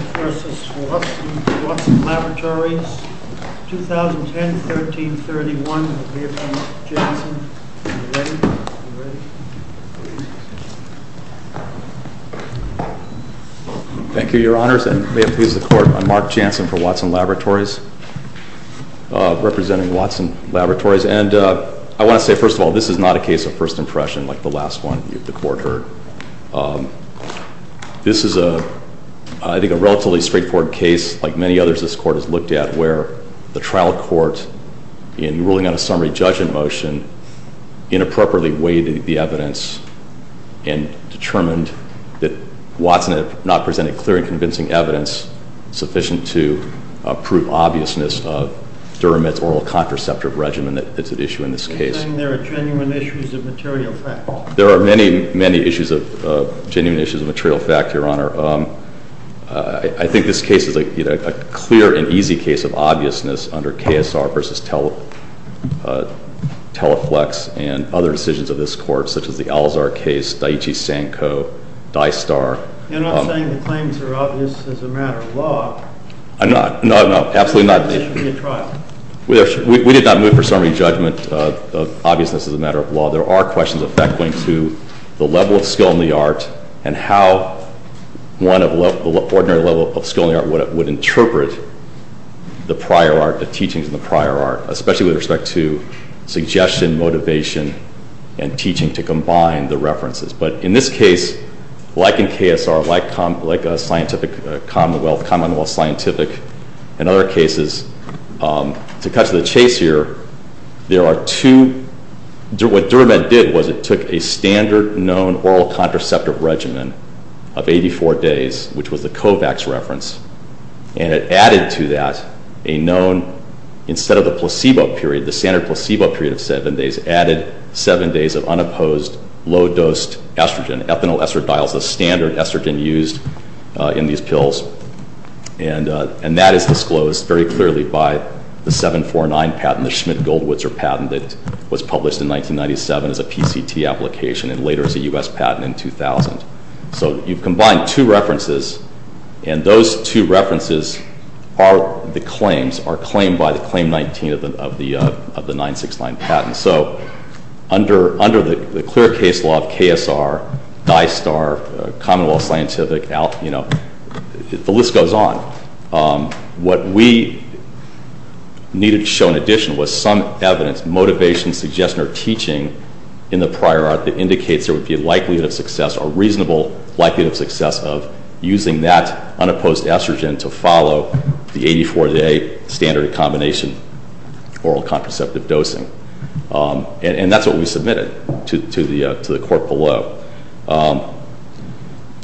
v. WATSON LABORATORIES 2010-13-31 Thank you, your honors. And may it please the court, I'm Mark Jansen for Watson Laboratories, representing Watson Laboratories. And I want to say, first of all, this is not a case of first impression like the last one the court heard. This is, I think, a relatively straightforward case, like many others this court has looked at, where the trial court, in ruling on a summary judgment motion, inappropriately weighted the evidence and determined that Watson had not presented clear and convincing evidence sufficient to prove obviousness of Duramed's oral contraceptive regimen that's at issue in this case. You're saying there are genuine issues of material fact? There are many, many issues of genuine issues of material fact, your honor. I think this case is a clear and easy case of obviousness under KSR v. Teleflex and other decisions of this court, such as the Alzar case, Daiichi-Sanko, Dystar. You're not saying the claims are obvious as a matter of law? I'm not. No, no, absolutely not. It shouldn't be a trial. We did not move for summary judgment of obviousness as a matter of law. There are questions of fact going to the level of skill in the art and how one of the ordinary level of skill in the art would interpret the prior art, the teachings in the prior art, especially with respect to suggestion, motivation, and teaching to combine the references. But in this case, like in KSR, like a scientific commonwealth, commonwealth scientific, in other cases, to cut to the chase here, there are two. What DuraMed did was it took a standard known oral contraceptive regimen of 84 days, which was the COVAX reference, and it added to that a known, instead of the placebo period, the standard placebo period of seven days, added seven days of unopposed low-dosed estrogen, and ethanol estradiol is the standard estrogen used in these pills. And that is disclosed very clearly by the 749 patent, the Schmidt-Goldwitzer patent, that was published in 1997 as a PCT application and later as a U.S. patent in 2000. So you've combined two references, and those two references are the claims, are claimed by the Claim 19 of the 969 patent. So under the clear case law of KSR, DISTAR, commonwealth scientific, the list goes on. What we needed to show in addition was some evidence, motivation, suggestion, or teaching in the prior art that indicates there would be a likelihood of success, a reasonable likelihood of success, of using that unopposed estrogen to follow the 84-day standard combination oral contraceptive dosing. And that's what we submitted to the court below.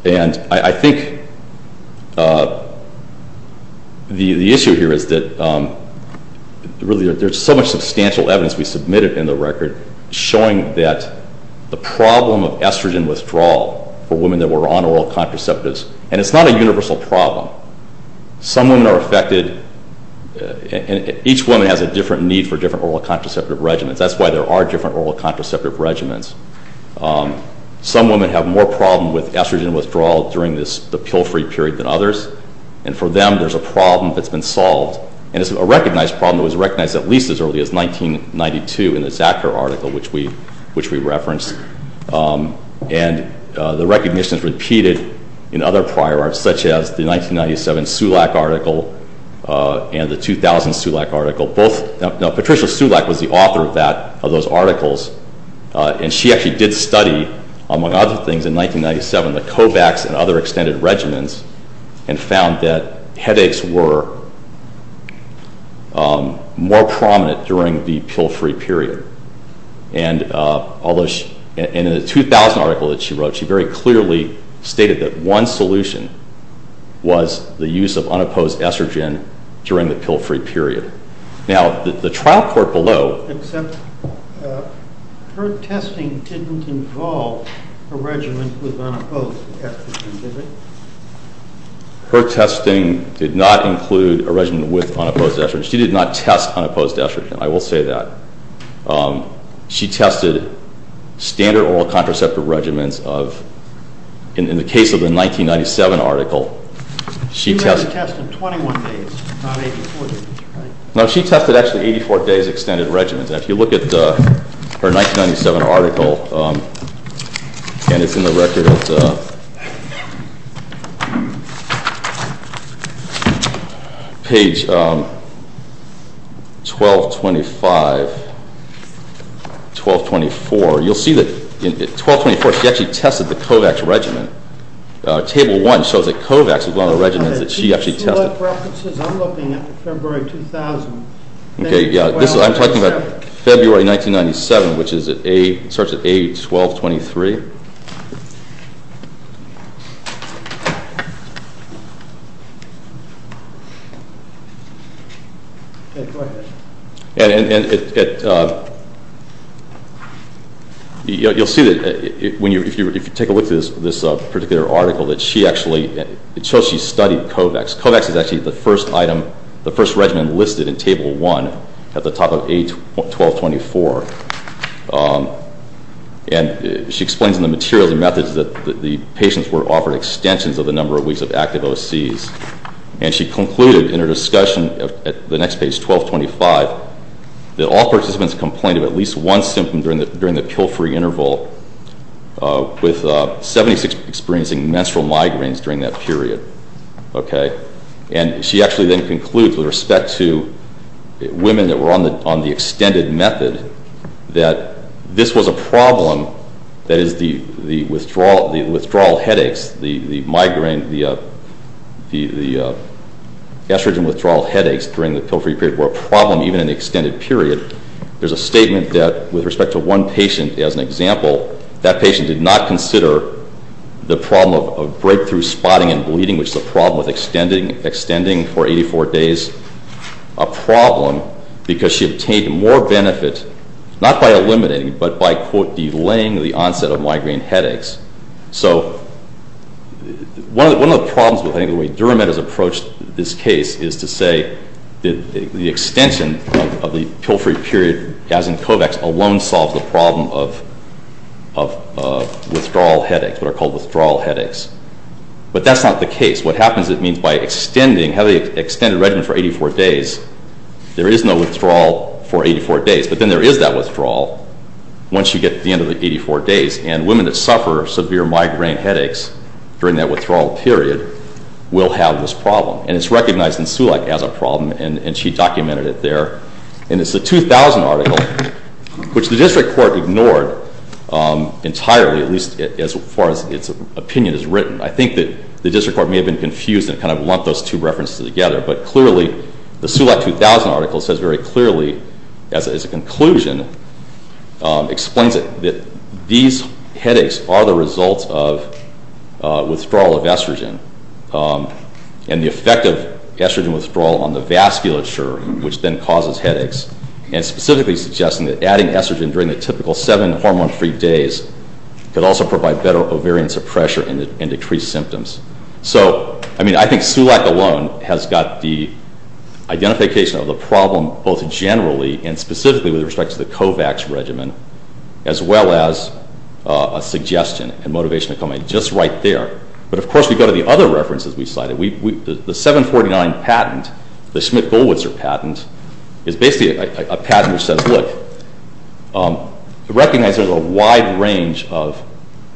And I think the issue here is that really there's so much substantial evidence we submitted in the record showing that the problem of estrogen withdrawal for women that were on oral contraceptives, and it's not a universal problem. Some women are affected, and each woman has a different need for different oral contraceptive regimens. That's why there are different oral contraceptive regimens. Some women have more problem with estrogen withdrawal during the pill-free period than others, and for them there's a problem that's been solved. And it's a recognized problem. It was recognized at least as early as 1992 in the Zacker article, which we referenced. And the recognition is repeated in other prior arts, such as the 1997 Sulak article and the 2000 Sulak article. Patricia Sulak was the author of those articles, and she actually did study, among other things, in 1997, the COVAX and other extended regimens and found that headaches were more prominent during the pill-free period. And in the 2000 article that she wrote, she very clearly stated that one solution was the use of unopposed estrogen during the pill-free period. Now, the trial court below— Except her testing didn't involve a regimen with unopposed estrogen, did it? Her testing did not include a regimen with unopposed estrogen. She did not test unopposed estrogen, I will say that. She tested standard oral contraceptive regimens of—in the case of the 1997 article, she tested— No, she tested, actually, 84 days extended regimens. If you look at her 1997 article, and it's in the record at page 1225, 1224, you'll see that in 1224 she actually tested the COVAX regimen. Table 1 shows that COVAX was one of the regimens that she actually tested. I'm looking at February 2000. I'm talking about February 1997, which starts at page 1223. You'll see that if you take a look at this particular article, that she actually—it shows she studied COVAX. COVAX is actually the first item—the first regimen listed in Table 1 at the top of page 1224. And she explains in the materials and methods that the patients were offered extensions of the number of weeks of active OCs. And she concluded in her discussion at the next page, 1225, that all participants complained of at least one symptom during the pill-free interval, with 76 experiencing menstrual migraines during that period. And she actually then concludes, with respect to women that were on the extended method, that this was a problem—that is, the withdrawal headaches, the estrogen withdrawal headaches during the pill-free period were a problem even in the extended period. There's a statement that, with respect to one patient as an example, that patient did not consider the problem of breakthrough spotting and bleeding, which is a problem with extending for 84 days, a problem, because she obtained more benefit not by eliminating but by, quote, delaying the onset of migraine headaches. So one of the problems with the way DuraMed has approached this case is to say the extension of the pill-free period as in COVEX alone solves the problem of withdrawal headaches, what are called withdrawal headaches. But that's not the case. What happens is it means by extending, having extended regimen for 84 days, there is no withdrawal for 84 days. But then there is that withdrawal once you get to the end of the 84 days. And women that suffer severe migraine headaches during that withdrawal period will have this problem. And it's recognized in SULAC as a problem, and she documented it there. And it's the 2000 article, which the district court ignored entirely, at least as far as its opinion is written. I think that the district court may have been confused and kind of lumped those two references together. But clearly, the SULAC 2000 article says very clearly, as a conclusion, explains that these headaches are the result of withdrawal of estrogen. And the effect of estrogen withdrawal on the vasculature, which then causes headaches, and specifically suggesting that adding estrogen during the typical seven hormone-free days could also provide better ovarian suppression and decrease symptoms. So, I mean, I think SULAC alone has got the identification of the problem both generally and specifically with respect to the COVEX regimen, as well as a suggestion and motivation to come in just right there. But, of course, we go to the other references we cited. The 749 patent, the Schmidt-Goldwitzer patent, is basically a patent which says, look, recognize there's a wide range of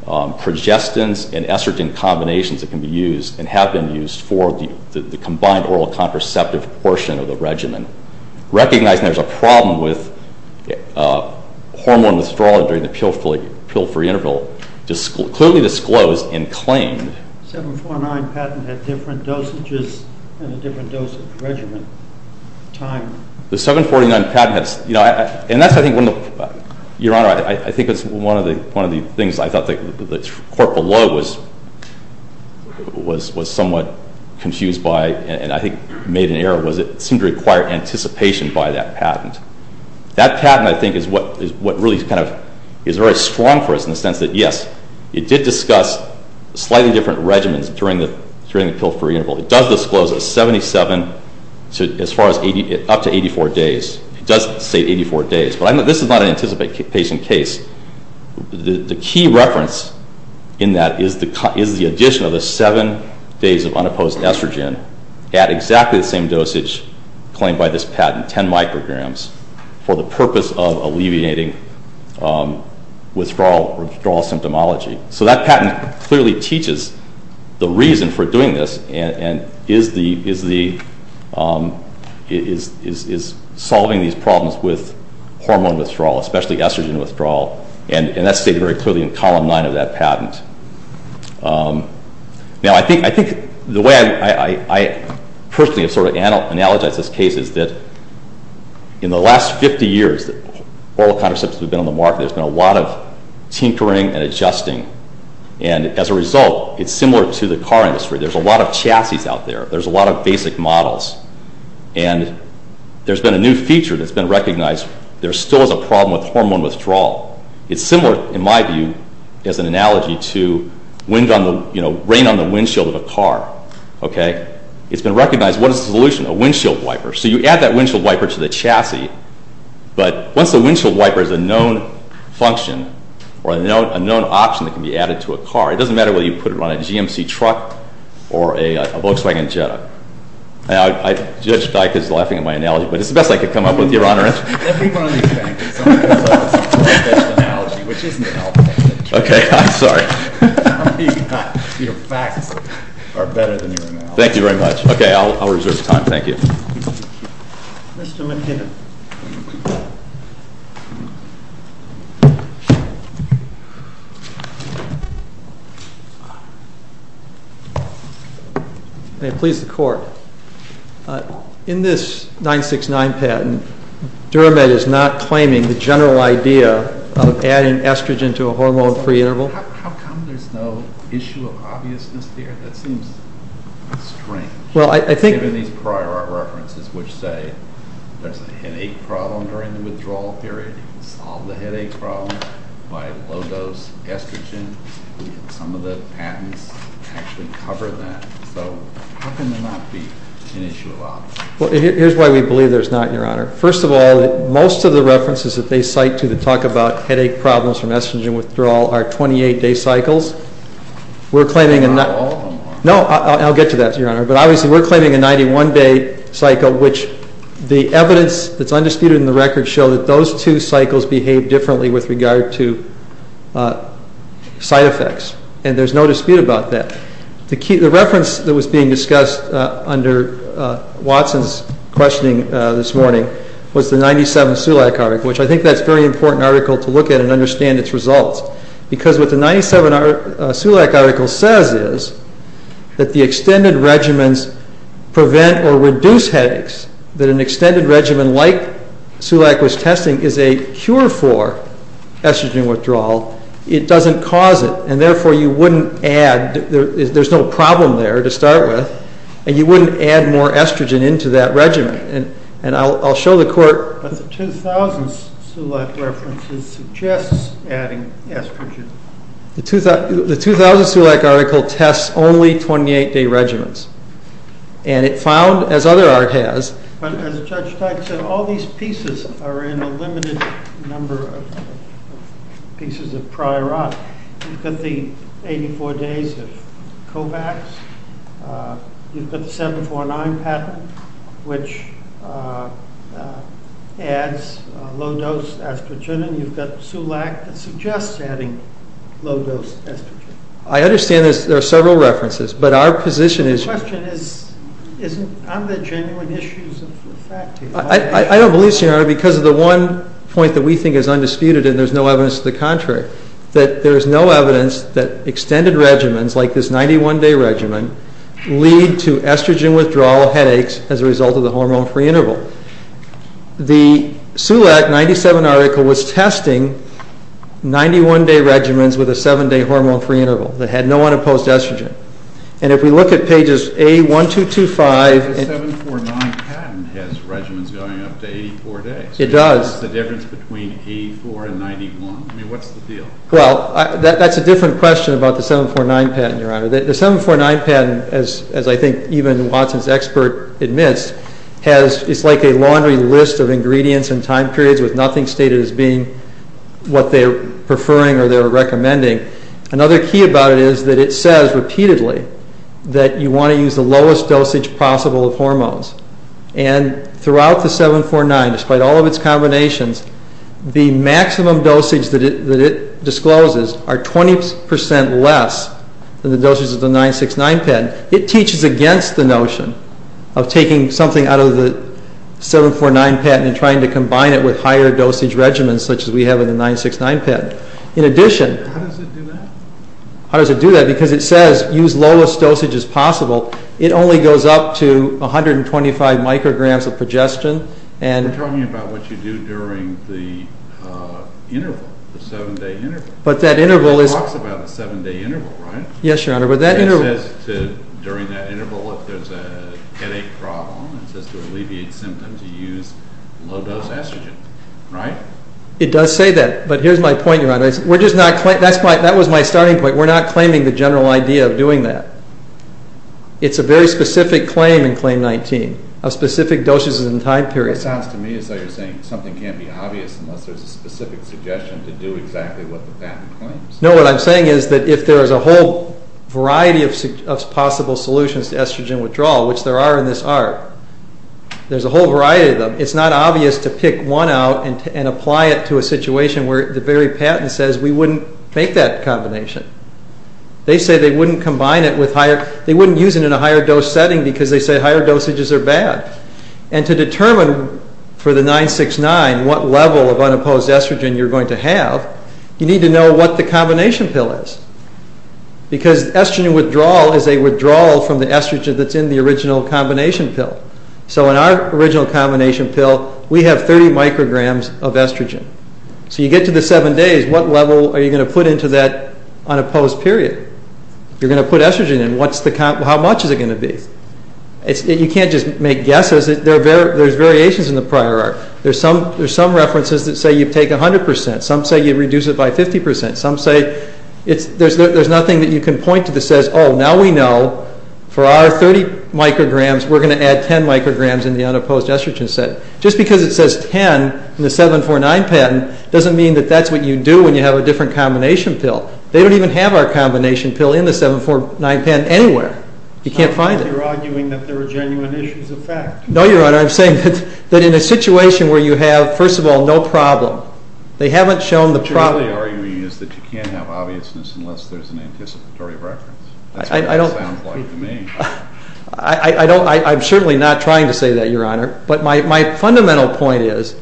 progestins and estrogen combinations that can be used and have been used for the combined oral contraceptive portion of the regimen. Recognizing there's a problem with hormone withdrawal during the pill-free interval, clearly disclosed and claimed. The 749 patent had different dosages and a different dosage regimen time. The 749 patent has, you know, and that's, I think, one of the, Your Honor, I think it's one of the things I thought the court below was somewhat confused by and I think made an error was it seemed to require anticipation by that patent. That patent, I think, is what really is very strong for us in the sense that, yes, it did discuss slightly different regimens during the pill-free interval. It does disclose a 77 up to 84 days. It does say 84 days, but this is not an anticipation case. The key reference in that is the addition of the 7 days of unopposed estrogen at exactly the same dosage claimed by this patent, 10 micrograms, for the purpose of alleviating withdrawal symptomology. So that patent clearly teaches the reason for doing this and is solving these problems with hormone withdrawal, especially estrogen withdrawal, and that's stated very clearly in Column 9 of that patent. Now, I think the way I personally have sort of analogized this case is that in the last 50 years that oral contraceptives have been on the market, there's been a lot of tinkering and adjusting, and as a result, it's similar to the car industry. There's a lot of chassis out there. There's a lot of basic models, and there's been a new feature that's been recognized. There still is a problem with hormone withdrawal. It's similar, in my view, as an analogy to rain on the windshield of a car, okay? It's been recognized. What is the solution? A windshield wiper. So you add that windshield wiper to the chassis, but once the windshield wiper is a known function or a known option that can be added to a car, it doesn't matter whether you put it on a GMC truck or a Volkswagen Jetta. Now, Judge Dyk is laughing at my analogy, but it's the best I could come up with, Your Honor. Every one of these facts is on this side is the best analogy, which isn't helpful. Okay, I'm sorry. Your facts are better than your analogy. Thank you very much. Okay, I'll reserve time. Thank you. Thank you. Mr. McKibbin. May it please the Court. In this 969 patent, Duramed is not claiming the general idea of adding estrogen to a hormone-free interval. How come there's no issue of obviousness here? That seems strange. Well, I think— Given these prior references, which say there's a headache problem during the withdrawal period, you can solve the headache problem by low-dose estrogen. Some of the patents actually cover that. So how can there not be an issue of obviousness? Well, here's why we believe there's not, Your Honor. First of all, most of the references that they cite to that talk about headache problems from estrogen withdrawal are 28-day cycles. Not all of them are. No, I'll get to that, Your Honor. But obviously, we're claiming a 91-day cycle, which the evidence that's undisputed in the record shows that those two cycles behave differently with regard to side effects. And there's no dispute about that. The reference that was being discussed under Watson's questioning this morning was the 97 Sulak article, which I think that's a very important article to look at and understand its results. Because what the 97 Sulak article says is that the extended regimens prevent or reduce headaches, that an extended regimen like Sulak was testing is a cure for estrogen withdrawal. It doesn't cause it, and therefore you wouldn't add. There's no problem there to start with. And you wouldn't add more estrogen into that regimen. And I'll show the court. But the 2000 Sulak reference suggests adding estrogen. The 2000 Sulak article tests only 28-day regimens. And it found, as other art has. But as Judge Teich said, all these pieces are in a limited number of pieces of prior art. You've got the 84 days of COVAX. You've got the 749 pattern, which adds low-dose estrogen. And you've got Sulak that suggests adding low-dose estrogen. I understand there are several references, but our position is... I don't believe, Senator, because of the one point that we think is undisputed, and there's no evidence to the contrary, that there is no evidence that extended regimens like this 91-day regimen lead to estrogen withdrawal headaches as a result of the hormone-free interval. The Sulak 97 article was testing 91-day regimens with a 7-day hormone-free interval that had no unopposed estrogen. And if we look at pages A1225... The 749 pattern has regimens going up to 84 days. It does. What's the difference between 84 and 91? I mean, what's the deal? Well, that's a different question about the 749 pattern, Your Honor. The 749 pattern, as I think even Watson's expert admits, is like a laundry list of ingredients and time periods with nothing stated as being what they're preferring or they're recommending. Another key about it is that it says repeatedly that you want to use the lowest dosage possible of hormones. And throughout the 749, despite all of its combinations, the maximum dosage that it discloses are 20% less than the dosage of the 969 pattern. It teaches against the notion of taking something out of the 749 pattern and trying to combine it with higher dosage regimens such as we have in the 969 pattern. In addition... How does it do that? How does it do that? Because it says use lowest dosage as possible. It only goes up to 125 micrograms of progestin and... We're talking about what you do during the interval, the 7-day interval. But that interval is... It talks about the 7-day interval, right? Yes, Your Honor, but that interval... It says during that interval if there's a headache problem, it says to alleviate symptoms you use low-dose estrogen, right? It does say that, but here's my point, Your Honor. We're just not claiming... That was my starting point. We're not claiming the general idea of doing that. It's a very specific claim in Claim 19 of specific dosages and time periods. What it sounds to me is that you're saying something can't be obvious unless there's a specific suggestion to do exactly what the patent claims. No, what I'm saying is that if there is a whole variety of possible solutions to estrogen withdrawal, which there are in this art, there's a whole variety of them. It's not obvious to pick one out and apply it to a situation where the very patent says we wouldn't make that combination. They say they wouldn't combine it with higher... They wouldn't use it in a higher-dose setting because they say higher dosages are bad. And to determine for the 969 what level of unopposed estrogen you're going to have, you need to know what the combination pill is because estrogen withdrawal is a withdrawal from the estrogen that's in the original combination pill. So in our original combination pill, we have 30 micrograms of estrogen. So you get to the 7 days, what level are you going to put into that unopposed period? You're going to put estrogen in. How much is it going to be? You can't just make guesses. There's variations in the prior art. There's some references that say you take 100%. Some say you reduce it by 50%. Some say... There's nothing that you can point to that says, oh, now we know for our 30 micrograms that we're going to add 10 micrograms in the unopposed estrogen setting. Just because it says 10 in the 749 patent doesn't mean that that's what you do when you have a different combination pill. They don't even have our combination pill in the 749 patent anywhere. You can't find it. You're arguing that there are genuine issues of fact. No, Your Honor. I'm saying that in a situation where you have, first of all, no problem. They haven't shown the problem. What you're really arguing is that you can't have obviousness unless there's an anticipatory reference. That's what it sounds like to me. I'm certainly not trying to say that, Your Honor. But my fundamental point is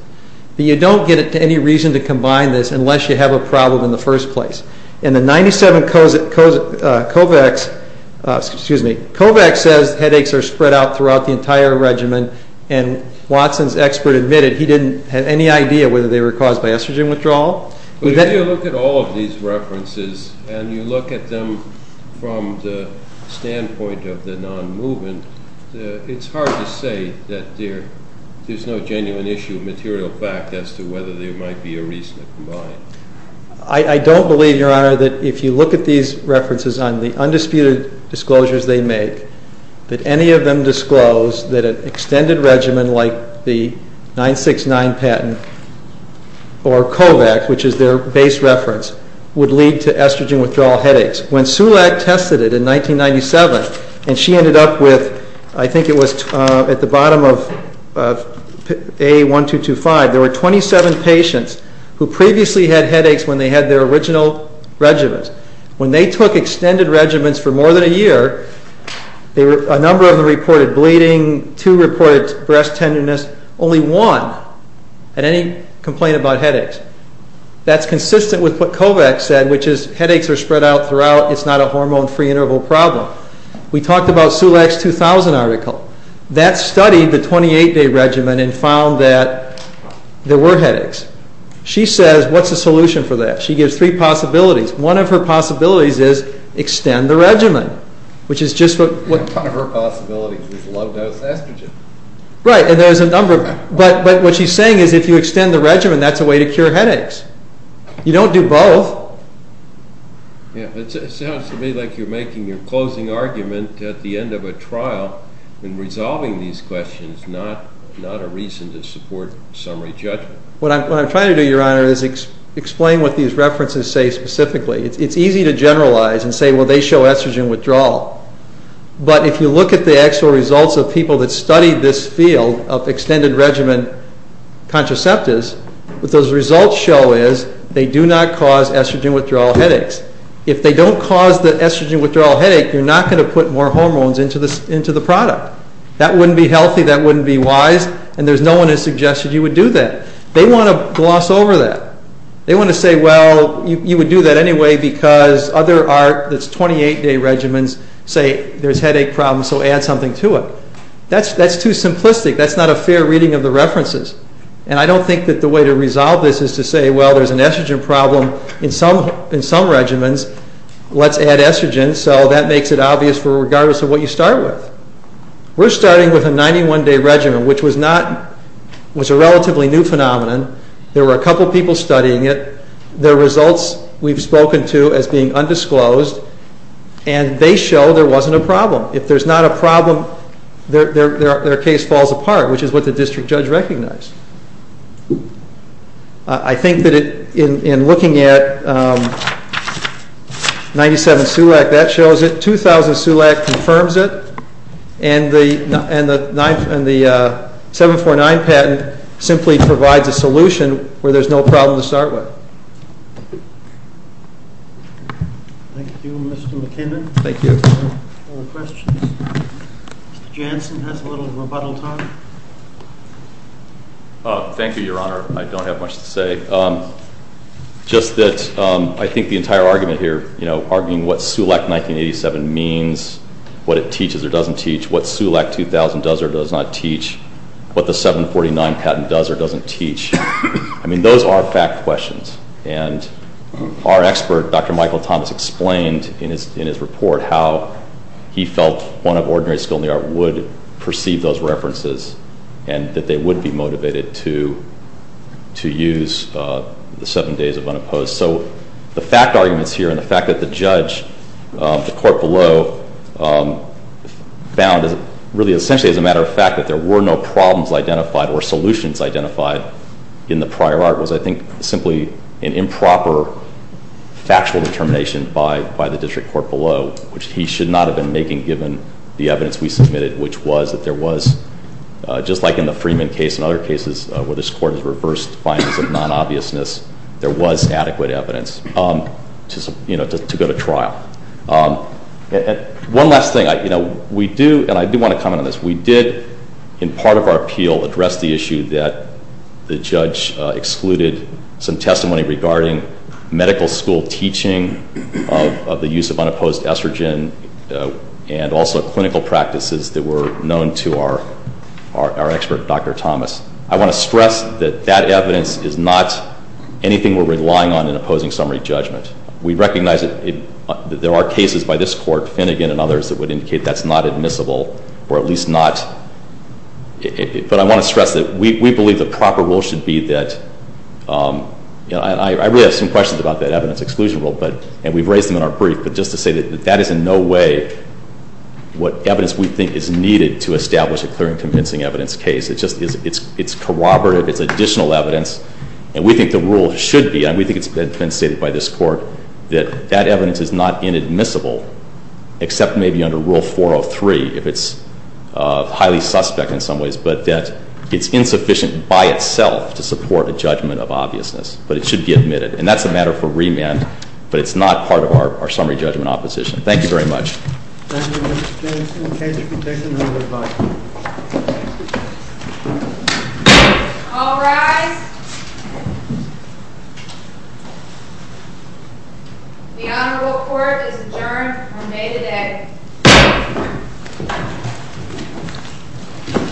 that you don't get it to any reason to combine this unless you have a problem in the first place. In the 97 COVAX... Excuse me. COVAX says headaches are spread out throughout the entire regimen, and Watson's expert admitted he didn't have any idea whether they were caused by estrogen withdrawal. But if you look at all of these references and you look at them from the standpoint of the non-movement, it's hard to say that there's no genuine issue of material fact as to whether there might be a reason to combine. I don't believe, Your Honor, that if you look at these references on the undisputed disclosures they make, that any of them disclose that an extended regimen like the 969 patent or COVAX, which is their base reference, would lead to estrogen withdrawal headaches. When Sulak tested it in 1997 and she ended up with, I think it was at the bottom of A1225, there were 27 patients who previously had headaches when they had their original regimens. When they took extended regimens for more than a year, a number of them reported bleeding, two reported breast tenderness, only one had any complaint about headaches. That's consistent with what COVAX said, which is headaches are spread out throughout, it's not a hormone-free interval problem. We talked about Sulak's 2000 article. That studied the 28-day regimen and found that there were headaches. She says, what's the solution for that? She gives three possibilities. One of her possibilities is extend the regimen, which is just what... One of her possibilities is low-dose estrogen. Right, and there's a number... But what she's saying is if you extend the regimen, that's a way to cure headaches. You don't do both. It sounds to me like you're making your closing argument at the end of a trial and resolving these questions is not a reason to support summary judgment. What I'm trying to do, Your Honor, is explain what these references say specifically. It's easy to generalize and say, well, they show estrogen withdrawal. But if you look at the actual results of people that studied this field of extended regimen contraceptives, what those results show is they do not cause estrogen withdrawal headaches. If they don't cause the estrogen withdrawal headache, you're not going to put more hormones into the product. That wouldn't be healthy. That wouldn't be wise. And no one has suggested you would do that. They want to gloss over that. They want to say, well, you would do that anyway because other 28-day regimens say there's headache problems, so add something to it. That's too simplistic. That's not a fair reading of the references. And I don't think that the way to resolve this is to say, well, there's an estrogen problem in some regimens. Let's add estrogen, so that makes it obvious regardless of what you start with. We're starting with a 91-day regimen, which was a relatively new phenomenon. There were a couple people studying it. The results we've spoken to as being undisclosed, and they show there wasn't a problem. If there's not a problem, their case falls apart, which is what the district judge recognized. I think that in looking at 97-SULAC, that shows it. 2000-SULAC confirms it. And the 749 patent simply provides a solution where there's no problem to start with. Thank you, Mr. McKinnon. Thank you. Any questions? Mr. Jansen has a little rebuttal time. Thank you, Your Honor. I don't have much to say. Just that I think the entire argument here, arguing what SULAC 1987 means, what it teaches or doesn't teach, what SULAC 2000 does or does not teach, what the 749 patent does or doesn't teach, I mean, those are fact questions. And our expert, Dr. Michael Thomas, explained in his report how he felt one of ordinary skill in the art would perceive those references and that they would be motivated to use the seven days of unopposed. So the fact arguments here and the fact that the judge, the court below, found really essentially as a matter of fact that there were no problems identified or solutions identified in the prior art was I think simply an improper factual determination by the district court below, which he should not have been making given the evidence we submitted, which was that there was, just like in the Freeman case and other cases where this court has reversed findings of non-obviousness, there was adequate evidence to go to trial. One last thing. We do, and I do want to comment on this, we did, in part of our appeal, address the issue that the judge excluded some testimony regarding medical school teaching of the use of unopposed estrogen and also clinical practices that were known to our expert, Dr. Thomas. I want to stress that that evidence is not anything we're relying on in opposing summary judgment. We recognize that there are cases by this court, Finnegan and others, that would indicate that's not admissible, or at least not. But I want to stress that we believe the proper rule should be that, and I really have some questions about that evidence exclusion rule, and we've raised them in our brief, but just to say that that is in no way what evidence we think is needed to establish a clear and convincing evidence case. It's corroborative. It's additional evidence, and we think the rule should be, and we think it's been stated by this court, that that evidence is not inadmissible, except maybe under Rule 403, if it's highly suspect in some ways, but that it's insufficient by itself to support a judgment of obviousness, but it should be admitted. And that's a matter for remand, but it's not part of our summary judgment opposition. Thank you very much. Thank you, Mr. Jensen. In case you could take another bite. All rise. The Honorable Court is adjourned on May the 10th.